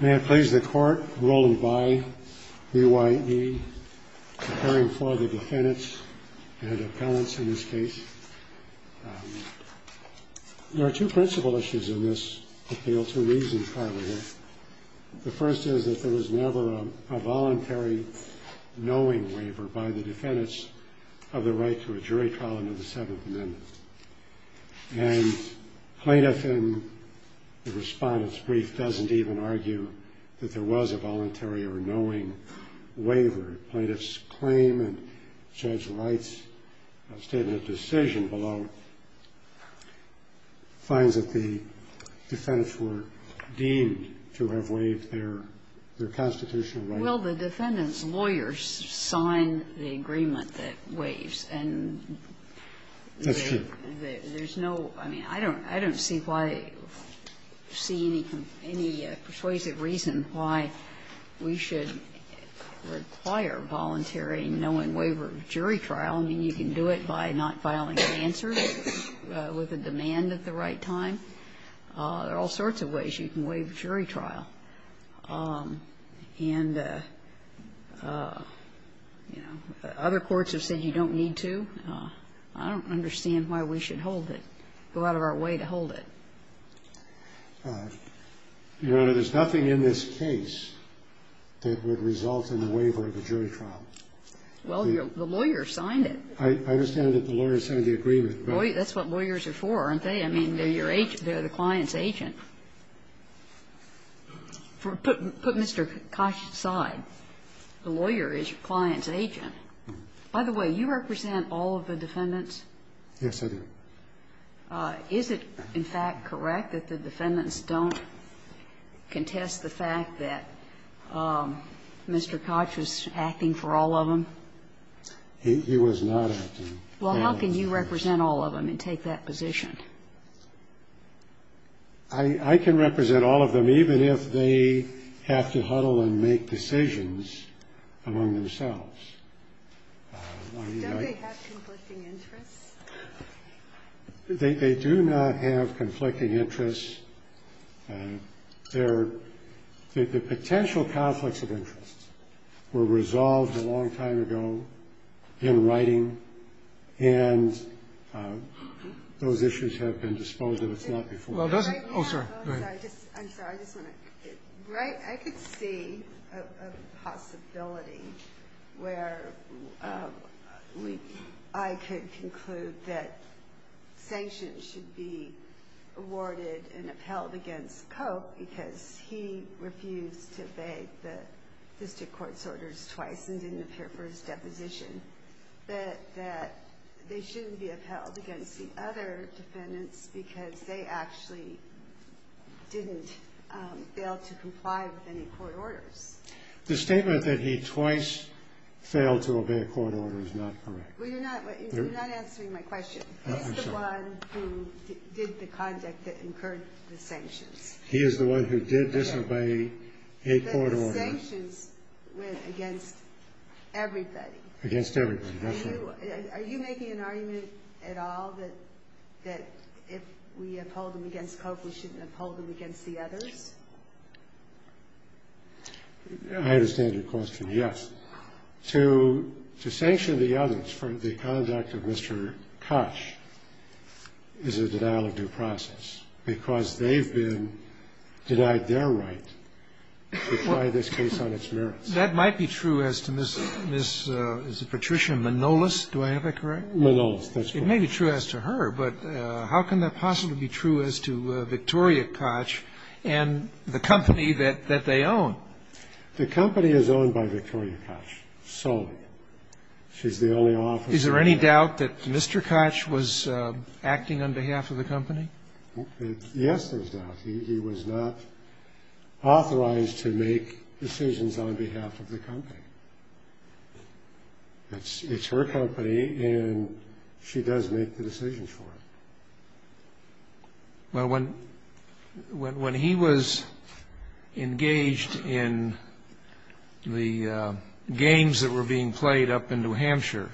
May it please the Court, Roland Bayh, BYE, preparing for the defendants and appellants in this case. There are two principal issues in this appeal to reason trial here. The first is that there was never a voluntary knowing waiver by the defendants of the right to a jury trial under the Seventh Amendment. And plaintiff in the respondent's brief doesn't even argue that there was a voluntary or knowing waiver. Plaintiff's claim in Judge Wright's statement of decision below finds that the defendants were deemed to have waived their constitutional right. Well, the defendants' lawyers sign the agreement that waives, and there's no – I mean, I don't see why – see any persuasive reason why we should require voluntary knowing waiver of jury trial. I mean, you can do it by not filing an answer with a demand at the right time. There are all sorts of ways you can waive jury trial. And, you know, other courts have said you don't need to. I don't understand why we should hold it, go out of our way to hold it. Your Honor, there's nothing in this case that would result in a waiver of a jury trial. Well, the lawyers signed it. I understand that the lawyers signed the agreement. That's what lawyers are for, aren't they? I mean, they're your – they're the client's agent. Put Mr. Koch aside. The lawyer is your client's agent. By the way, you represent all of the defendants? Yes, I do. Is it, in fact, correct that the defendants don't contest the fact that Mr. Koch was acting for all of them? He was not acting. Well, how can you represent all of them and take that position? I can represent all of them, even if they have to huddle and make decisions among themselves. Don't they have conflicting interests? They do not have conflicting interests. Their – the potential conflicts of interest were resolved a long time ago in writing, and those issues have been disposed of. It's not before us. Well, doesn't – oh, sorry. Go ahead. I'm sorry. I just want to – I could see a possibility where we – I could conclude that sanctions should be awarded and upheld against Koch because he refused to obey the district court's orders twice and didn't appear for his deposition, but that they shouldn't be upheld against the other defendants because they actually didn't fail to comply with any court orders. The statement that he twice failed to obey a court order is not correct. Well, you're not answering my question. Oh, I'm sorry. He's the one who did the conduct that incurred the sanctions. He is the one who did disobey a court order. But the sanctions went against everybody. Against everybody, that's right. Are you making an argument at all that if we uphold them against Koch, we shouldn't uphold them against the others? I understand your question, yes. But to sanction the others for the conduct of Mr. Koch is a denial of due process because they've been denied their right to try this case on its merits. That might be true as to Ms. – is it Patricia Manolis? Do I have that correct? Manolis, that's correct. It may be true as to her, but how can that possibly be true as to Victoria Koch and the company that they own? The company is owned by Victoria Koch solely. She's the only officer. Is there any doubt that Mr. Koch was acting on behalf of the company? Yes, there's doubt. He was not authorized to make decisions on behalf of the company. It's her company, and she does make the decisions for it. Well, when he was engaged in the games that were being played up in New Hampshire,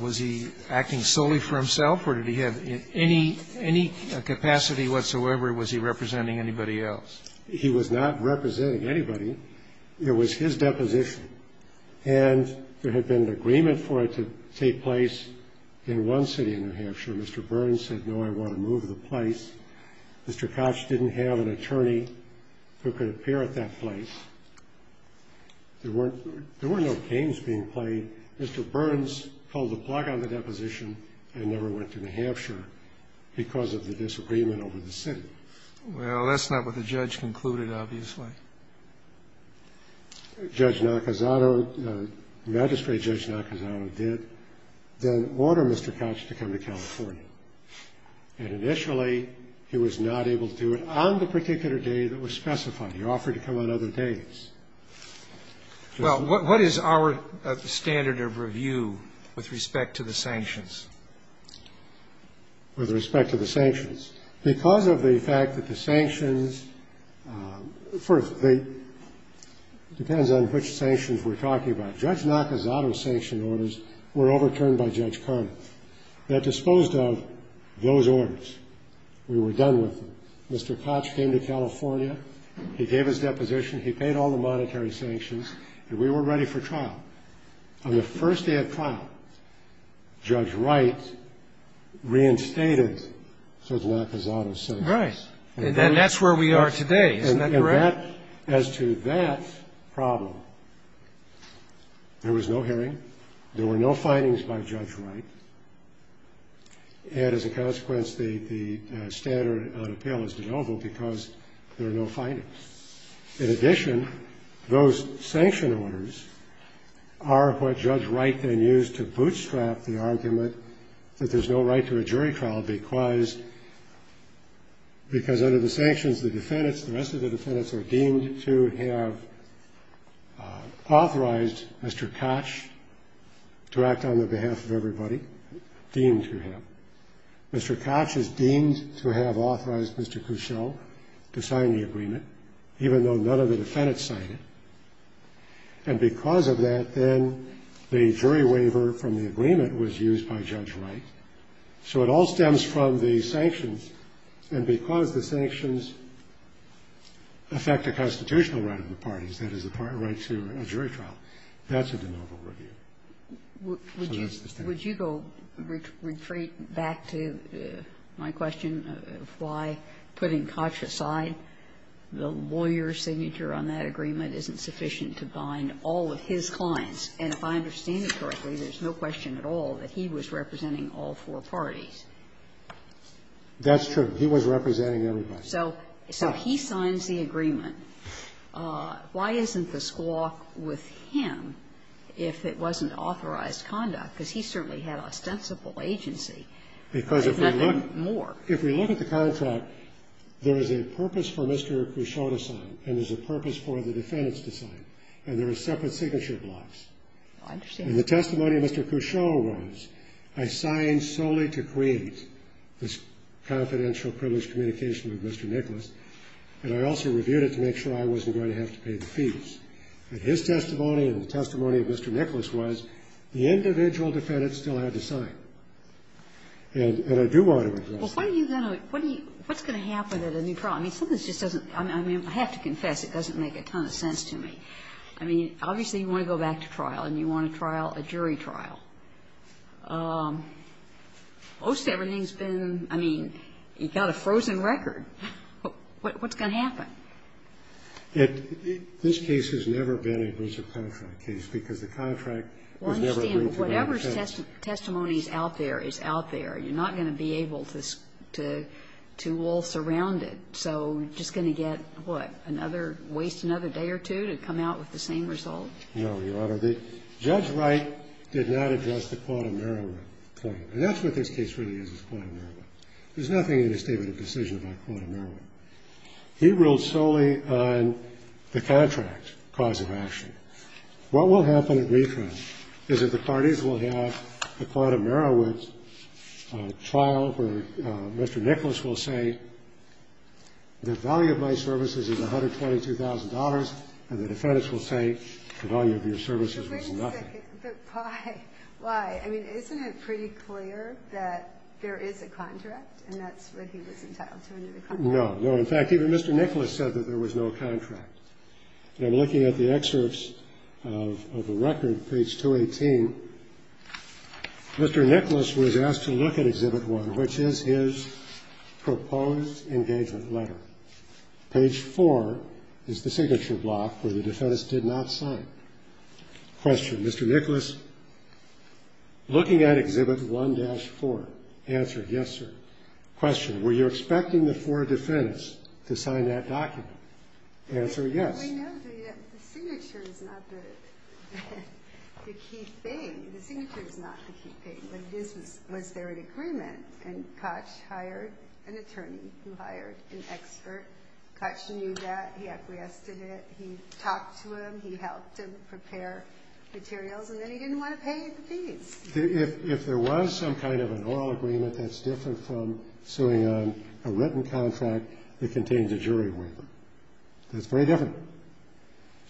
was he acting solely for himself, or did he have any capacity whatsoever, or was he representing anybody else? He was not representing anybody. It was his deposition. And there had been an agreement for it to take place in one city in New Hampshire. Mr. Burns said, no, I want to move the place. Mr. Koch didn't have an attorney who could appear at that place. There were no games being played. Mr. Burns pulled the plug on the deposition and never went to New Hampshire because of the disagreement over the city. Well, that's not what the judge concluded, obviously. Judge Nakazato, Magistrate Judge Nakazato did then order Mr. Koch to come to California. And initially, he was not able to do it on the particular day that was specified. He offered to come on other days. Well, what is our standard of review with respect to the sanctions? With respect to the sanctions? Because of the fact that the sanctions, first, it depends on which sanctions we're talking about. Judge Nakazato's sanction orders were overturned by Judge Karnoff. That disposed of those orders. We were done with them. Mr. Koch came to California. He gave his deposition. On the first day of trial, Judge Wright reinstated Judge Nakazato's sanctions. Right. And that's where we are today. Isn't that correct? As to that problem, there was no hearing. There were no findings by Judge Wright. And as a consequence, the standard on appeal is de novo because there are no findings. In addition, those sanction orders are what Judge Wright then used to bootstrap the argument that there's no right to a jury trial because under the sanctions, the defendants, the rest of the defendants, are deemed to have authorized Mr. Koch to act on the behalf of everybody, deemed to have. Mr. Koch is deemed to have authorized Mr. Cussell to sign the agreement, even though none of the defendants signed it. And because of that, then, the jury waiver from the agreement was used by Judge Wright. So it all stems from the sanctions. And because the sanctions affect the constitutional right of the parties, that is the right to a jury trial, that's a de novo review. Would you go retreat back to my question of why, putting Koch aside, the lawyer's signature on that agreement isn't sufficient to bind all of his clients? And if I understand it correctly, there's no question at all that he was representing all four parties. That's true. He was representing everybody. So he signs the agreement. Why isn't the squawk with him if it wasn't authorized conduct? Because he certainly had ostensible agency. There's nothing more. Because if we look at the contract, there is a purpose for Mr. Cussell to sign and there's a purpose for the defendants to sign. And there are separate signature blocks. I understand. And the testimony of Mr. Cussell was, I signed solely to create this confidential privilege communication with Mr. Nicholas, and I also reviewed it to make sure I wasn't going to have to pay the fees. But his testimony and the testimony of Mr. Nicholas was, the individual defendants still had to sign. And I do want to address that. Well, what are you going to do? What's going to happen at a new trial? I mean, something just doesn't – I mean, I have to confess, it doesn't make a ton of sense to me. I mean, obviously, you want to go back to trial and you want to trial a jury trial. Most everything's been – I mean, you've got a frozen record. What's going to happen? This case has never been a abusive contract case because the contract was never agreed to by the defense. Well, I understand. Whatever testimony is out there is out there. You're not going to be able to all surround it. So you're just going to get, what, another – waste another day or two to come out with the same result? No, Your Honor. So the – Judge Wright did not address the Quata Marawood claim. And that's what this case really is, is Quata Marawood. There's nothing in his statement of decision about Quata Marawood. He ruled solely on the contract cause of action. What will happen at re-trial is that the parties will have a Quata Marawood trial where Mr. Nicholas will say, the value of my services is $122,000, and the defense will say the value of your services was nothing. But wait a second. But why? Why? I mean, isn't it pretty clear that there is a contract and that's what he was entitled to under the contract? No. No, in fact, even Mr. Nicholas said that there was no contract. And I'm looking at the excerpts of the record, page 218. Mr. Nicholas was asked to look at Exhibit 1, which is his proposed engagement letter. Page 4 is the signature block where the defense did not sign. Question, Mr. Nicholas, looking at Exhibit 1-4, answer, yes, sir. Question, were you expecting the four defendants to sign that document? Answer, yes. I know the signature is not the key thing. The signature is not the key thing. But was there an agreement? And Koch hired an attorney who hired an expert. Koch knew that. He acquiesced to that. He talked to him. He helped him prepare materials. And then he didn't want to pay the fees. If there was some kind of an oral agreement that's different from suing on a written contract that contains a jury waiver, that's very different.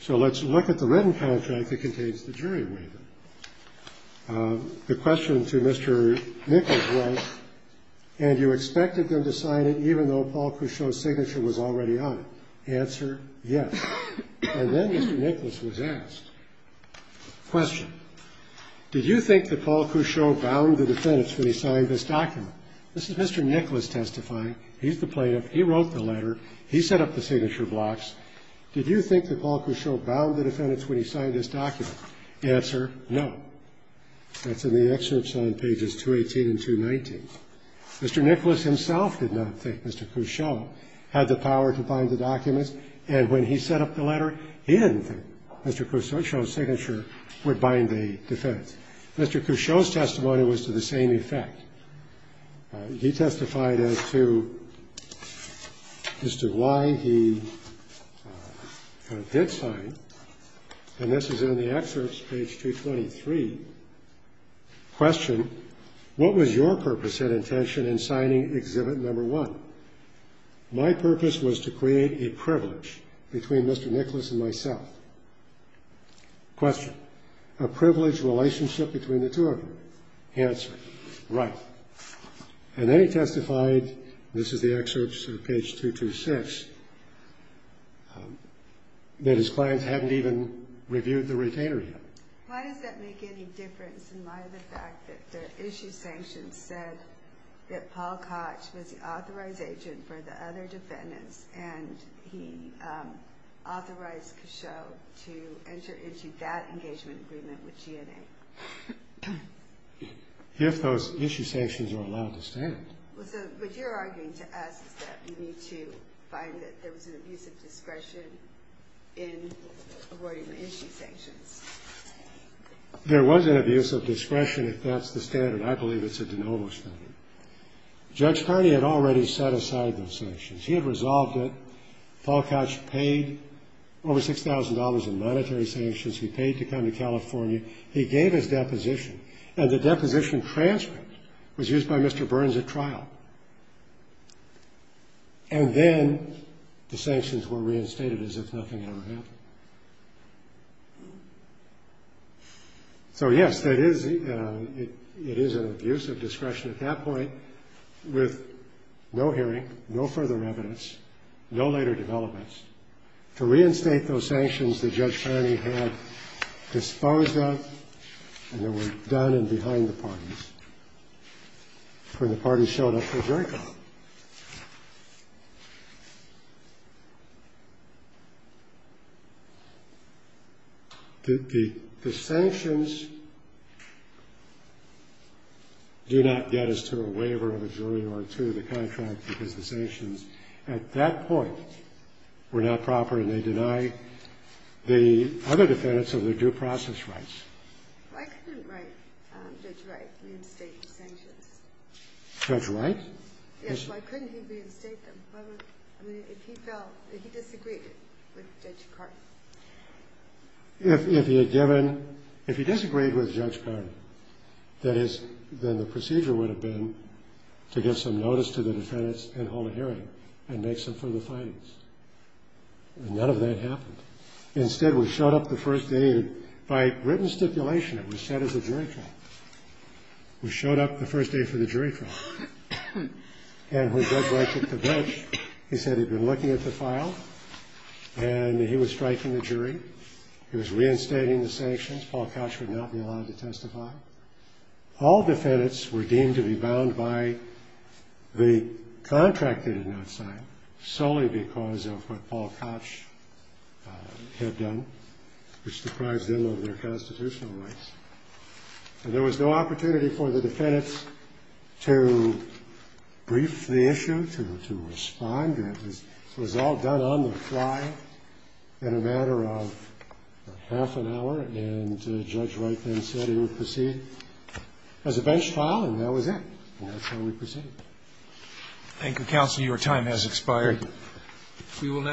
So let's look at the written contract that contains the jury waiver. The question to Mr. Nicholas was, and you expected them to sign it even though Paul Couchot's signature was already on it. Answer, yes. And then Mr. Nicholas was asked, question, did you think that Paul Couchot bound the defendants when he signed this document? This is Mr. Nicholas testifying. He's the plaintiff. He wrote the letter. He set up the signature blocks. Did you think that Paul Couchot bound the defendants when he signed this document? Answer, no. That's in the excerpts on pages 218 and 219. Mr. Nicholas himself did not think Mr. Couchot had the power to bind the documents. And when he set up the letter, he didn't think Mr. Couchot's signature would bind the defendants. Mr. Couchot's testimony was to the same effect. He testified as to why he did sign, and this is in the excerpts, page 223. Question, what was your purpose and intention in signing exhibit number one? My purpose was to create a privilege between Mr. Nicholas and myself. Question, a privilege relationship between the two of them? Answer, right. And then he testified, and this is the excerpts of page 226, that his clients hadn't even reviewed the retainer yet. Why does that make any difference in light of the fact that the issue sanctions said that Paul Couch was the authorized agent for the other defendants and he authorized Couchot to enter into that engagement agreement with GNA? If those issue sanctions are allowed to stand. What you're arguing to us is that we need to find that there was an abuse of discretion in avoiding the issue sanctions. There was an abuse of discretion if that's the standard. I believe it's a de novo standard. Judge Carney had already set aside those sanctions. He had resolved it. Paul Couch paid over $6,000 in monetary sanctions. He paid to come to California. He gave his deposition, and the deposition transcript was used by Mr. Burns at trial. And then the sanctions were reinstated as if nothing ever happened. So, yes, it is an abuse of discretion at that point with no hearing, no further evidence, no later developments, to reinstate those sanctions that Judge Carney had disposed of and that were done and behind the parties when the parties showed up for a jury call. The sanctions do not get us to a waiver of a jury or to the contract because the sanctions at that point were not proper and they deny the other defendants of their due process rights. Why couldn't Judge Wright reinstate the sanctions? Judge Wright? Yes, why couldn't he reinstate them? I mean, if he felt that he disagreed with Judge Carney. If he had given ‑‑ if he disagreed with Judge Carney, then the procedure would have been to give some notice to the defendants and hold a hearing and make some further findings. And none of that happened. Instead, we showed up the first day. By written stipulation, it was set as a jury trial. We showed up the first day for the jury trial. And when Judge Wright took the bench, he said he'd been looking at the file and he was striking the jury. He was reinstating the sanctions. Paul Koch would not be allowed to testify. All defendants were deemed to be bound by the contract they did not sign, solely because of what Paul Koch had done, which deprived them of their constitutional rights. And there was no opportunity for the defendants to brief the issue, to respond. It was all done on the fly in a matter of half an hour. And Judge Wright then said he would proceed as a bench file. And that was it. And that's how we proceeded. Thank you, counsel. Your time has expired. Good morning,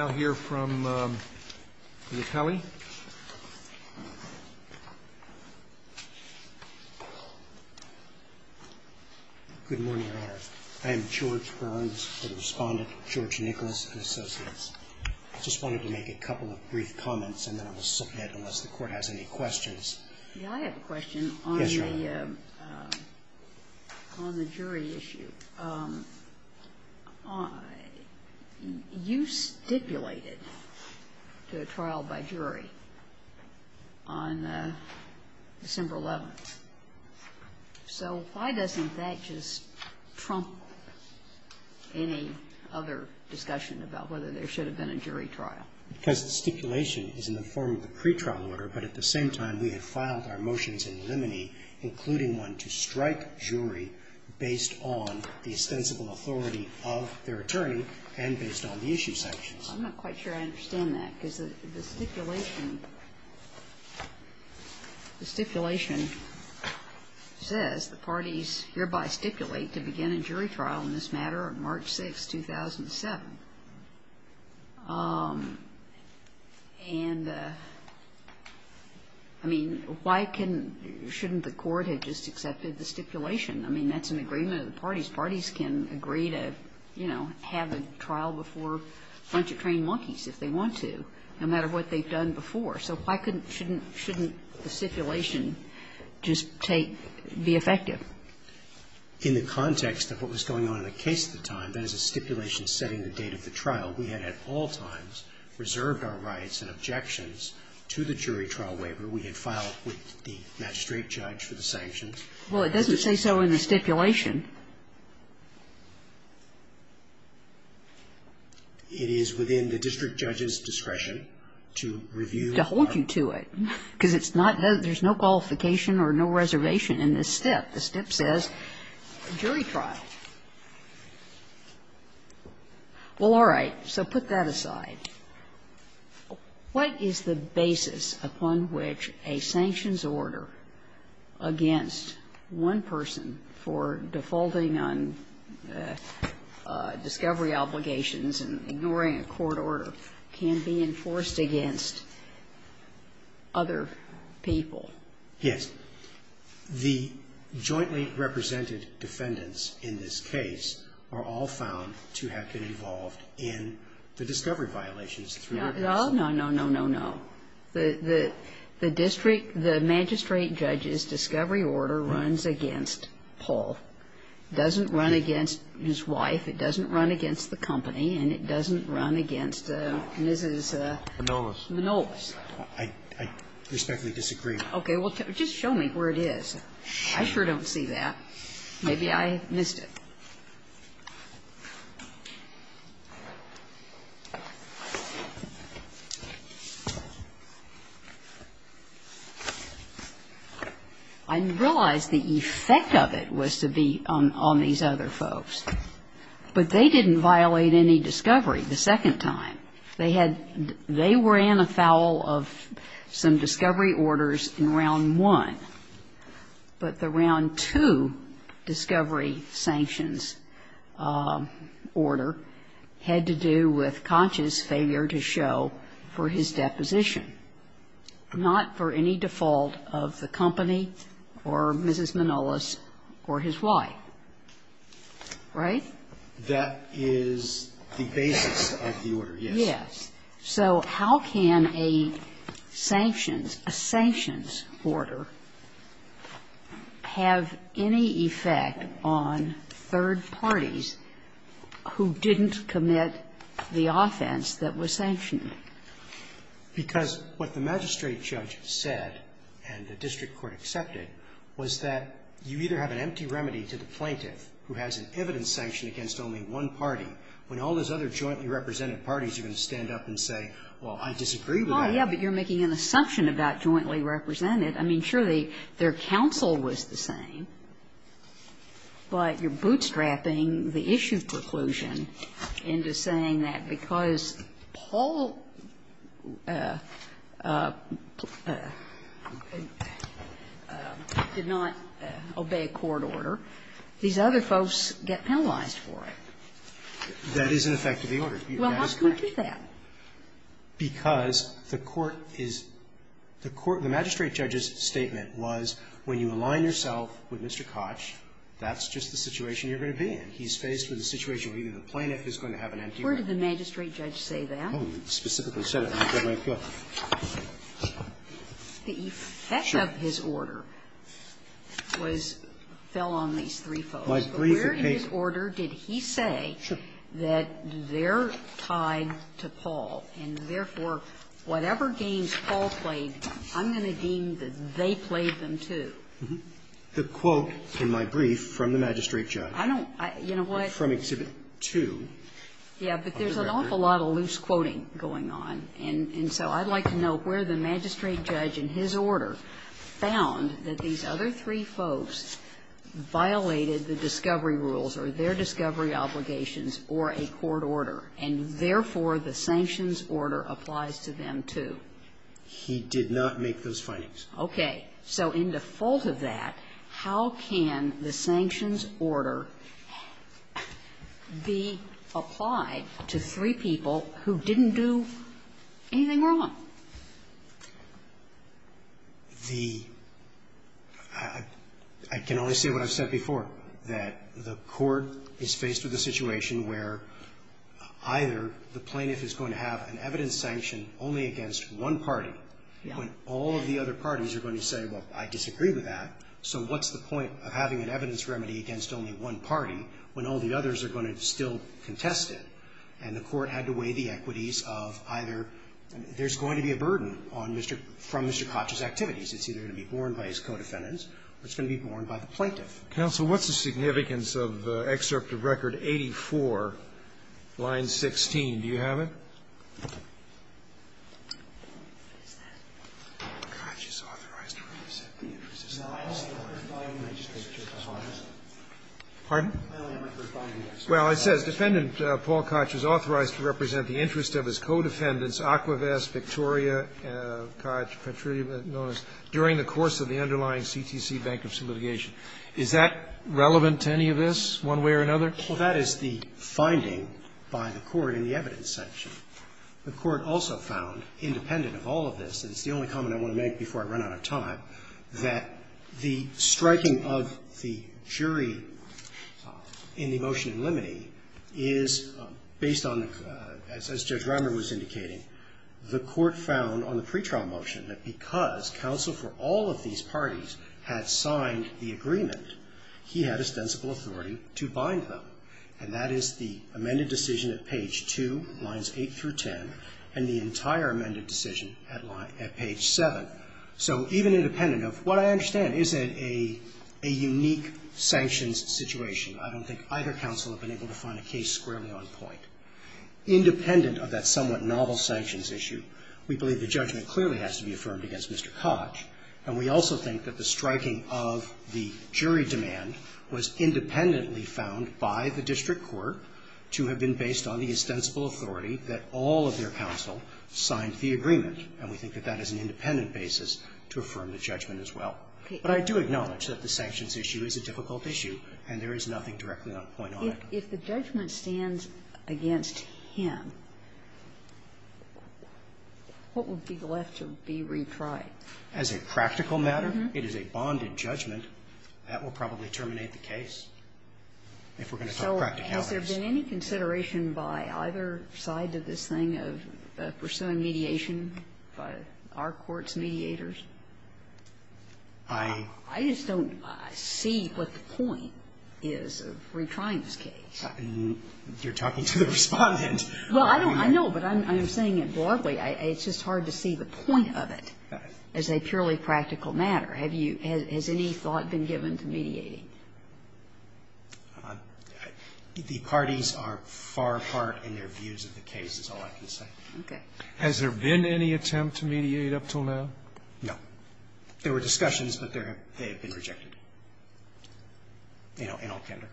Your Honor. I am George Burns, the Respondent, George Nicholas and Associates. I just wanted to make a couple of brief comments and then I will submit unless the Court has any questions. May I have a question on the jury issue? You stipulated to a trial by jury on December 11th. So why doesn't that just trump any other discussion about whether there should have been a jury trial? Because the stipulation is in the form of the pretrial order. But at the same time, we had filed our motions in limine, including one to strike jury based on the ostensible authority of their attorney and based on the issue sanctions. I'm not quite sure I understand that. The stipulation says the parties hereby stipulate to begin a jury trial in this matter on March 6, 2007. And, I mean, why shouldn't the Court have just accepted the stipulation? I mean, that's an agreement of the parties. Parties can agree to, you know, have a trial before a bunch of trained monkeys if they want to, no matter what they've done before. So why shouldn't the stipulation just be effective? In the context of what was going on in the case at the time, that is a stipulation setting the date of the trial, we had at all times reserved our rights and objections to the jury trial waiver. We had filed with the magistrate judge for the sanctions. Well, it doesn't say so in the stipulation. It is within the district judge's discretion to review. To hold you to it. Because it's not that there's no qualification or no reservation in this step. The step says jury trial. Well, all right. So put that aside. What is the basis upon which a sanctions order against one person for defamation and defaulting on discovery obligations and ignoring a court order can be enforced against other people? Yes. The jointly represented defendants in this case are all found to have been involved in the discovery violations through the case. No, no, no, no, no, no. The district, the magistrate judge's discovery order runs against Paul. It doesn't run against his wife. It doesn't run against the company. And it doesn't run against Mrs. Minolis. I respectfully disagree. Okay. Well, just show me where it is. I sure don't see that. Maybe I missed it. I didn't realize the effect of it was to be on these other folks. But they didn't violate any discovery the second time. They had they were in a foul of some discovery orders in round one. But the round two discovery sanctions were in violation. And the reason I'm saying that is because the basis of the order had to do with conscious failure to show for his deposition, not for any default of the company or Mrs. Minolis or his wife. Right? That is the basis of the order, yes. Yes. So how can a sanctions, a sanctions order have any effect on third parties who didn't commit the offense that was sanctioned? Because what the magistrate judge said and the district court accepted was that you either have an empty remedy to the plaintiff who has an evidence sanction against only one party. When all those other jointly represented parties are going to stand up and say, well, I disagree with that. Oh, yeah, but you're making an assumption about jointly represented. I mean, surely their counsel was the same. But you're bootstrapping the issue preclusion into saying that because Paul did not That is an effect of the order. Well, how can you do that? Because the court is the court, the magistrate judge's statement was when you align yourself with Mr. Koch, that's just the situation you're going to be in. He's faced with a situation where either the plaintiff is going to have an empty remedy. Where did the magistrate judge say that? He specifically said it. The effect of his order was, fell on these three folks. But where in his order did he say that they're tied to Paul, and therefore whatever games Paul played, I'm going to deem that they played them, too? The quote in my brief from the magistrate judge from Exhibit 2. Yeah, but there's an awful lot of loose quoting going on. And so I'd like to know where the magistrate judge in his order found that these other three folks violated the discovery rules or their discovery obligations or a court order, and therefore the sanctions order applies to them, too. He did not make those findings. Okay. So in default of that, how can the sanctions order be applied to three people who didn't do anything wrong? I can only say what I've said before, that the court is faced with a situation where either the plaintiff is going to have an evidence sanction only against one party, when all of the other parties are going to say, well, I disagree with that, so what's the point of having an evidence remedy against only one party when all the others are going to still contest it? And the court had to weigh the equities of either there's going to be a burden on Mr. — from Mr. Koch's activities. It's either going to be borne by his co-defendants or it's going to be borne by the plaintiff. Counsel, what's the significance of Excerpt of Record 84, line 16? Do you have it? What is that? Koch is authorized to represent the interest of his co-defendants. Pardon? Well, it says, Defendant Paul Koch is authorized to represent the interest of his co-defendants Aquavest, Victoria, Koch, Petrie, and Nones, during the course of the underlying CTC bankruptcy litigation. Is that relevant to any of this, one way or another? Well, that is the finding by the court in the evidence section. The court also found, independent of all of this, and it's the only comment I want to make before I run out of time, that the striking of the jury in the motion in limine is based on, as Judge Rimer was indicating, the court found on the pretrial motion that because counsel for all of these parties had signed the agreement, he had ostensible authority to bind them, and that is the amended decision at page 2, lines 8 through 10, and the entire amended decision at line at page 7. So even independent of what I understand isn't a unique sanctions situation, I don't think either counsel have been able to find a case squarely on point. Independent of that somewhat novel sanctions issue, we believe the judgment clearly has to be affirmed against Mr. Koch, and we also think that the striking of the jury demand was independently found by the district court to have been based on the ostensible authority that all of their counsel signed the agreement. And we think that that is an independent basis to affirm the judgment as well. But I do acknowledge that the sanctions issue is a difficult issue, and there is nothing directly on point on it. If the judgment stands against him, what would be left to be retried? As a practical matter, it is a bonded judgment. That will probably terminate the case. If we're going to talk practicalities. So has there been any consideration by either side of this thing of pursuing mediation by our court's mediators? I just don't see what the point is of retrying this case. You're talking to the Respondent. Well, I know, but I'm saying it broadly. It's just hard to see the point of it. As a purely practical matter, have you – has any thought been given to mediating? The parties are far apart in their views of the case, is all I can say. Okay. Has there been any attempt to mediate up until now? No. There were discussions, but they have been rejected. You know, in all candor.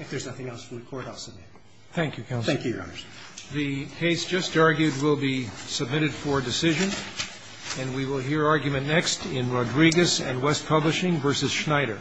If there's nothing else from the Court, I'll submit. Thank you, counsel. Thank you, Your Honors. The case just argued will be submitted for decision, and we will hear argument next in Rodriguez and West Publishing v. Schneider.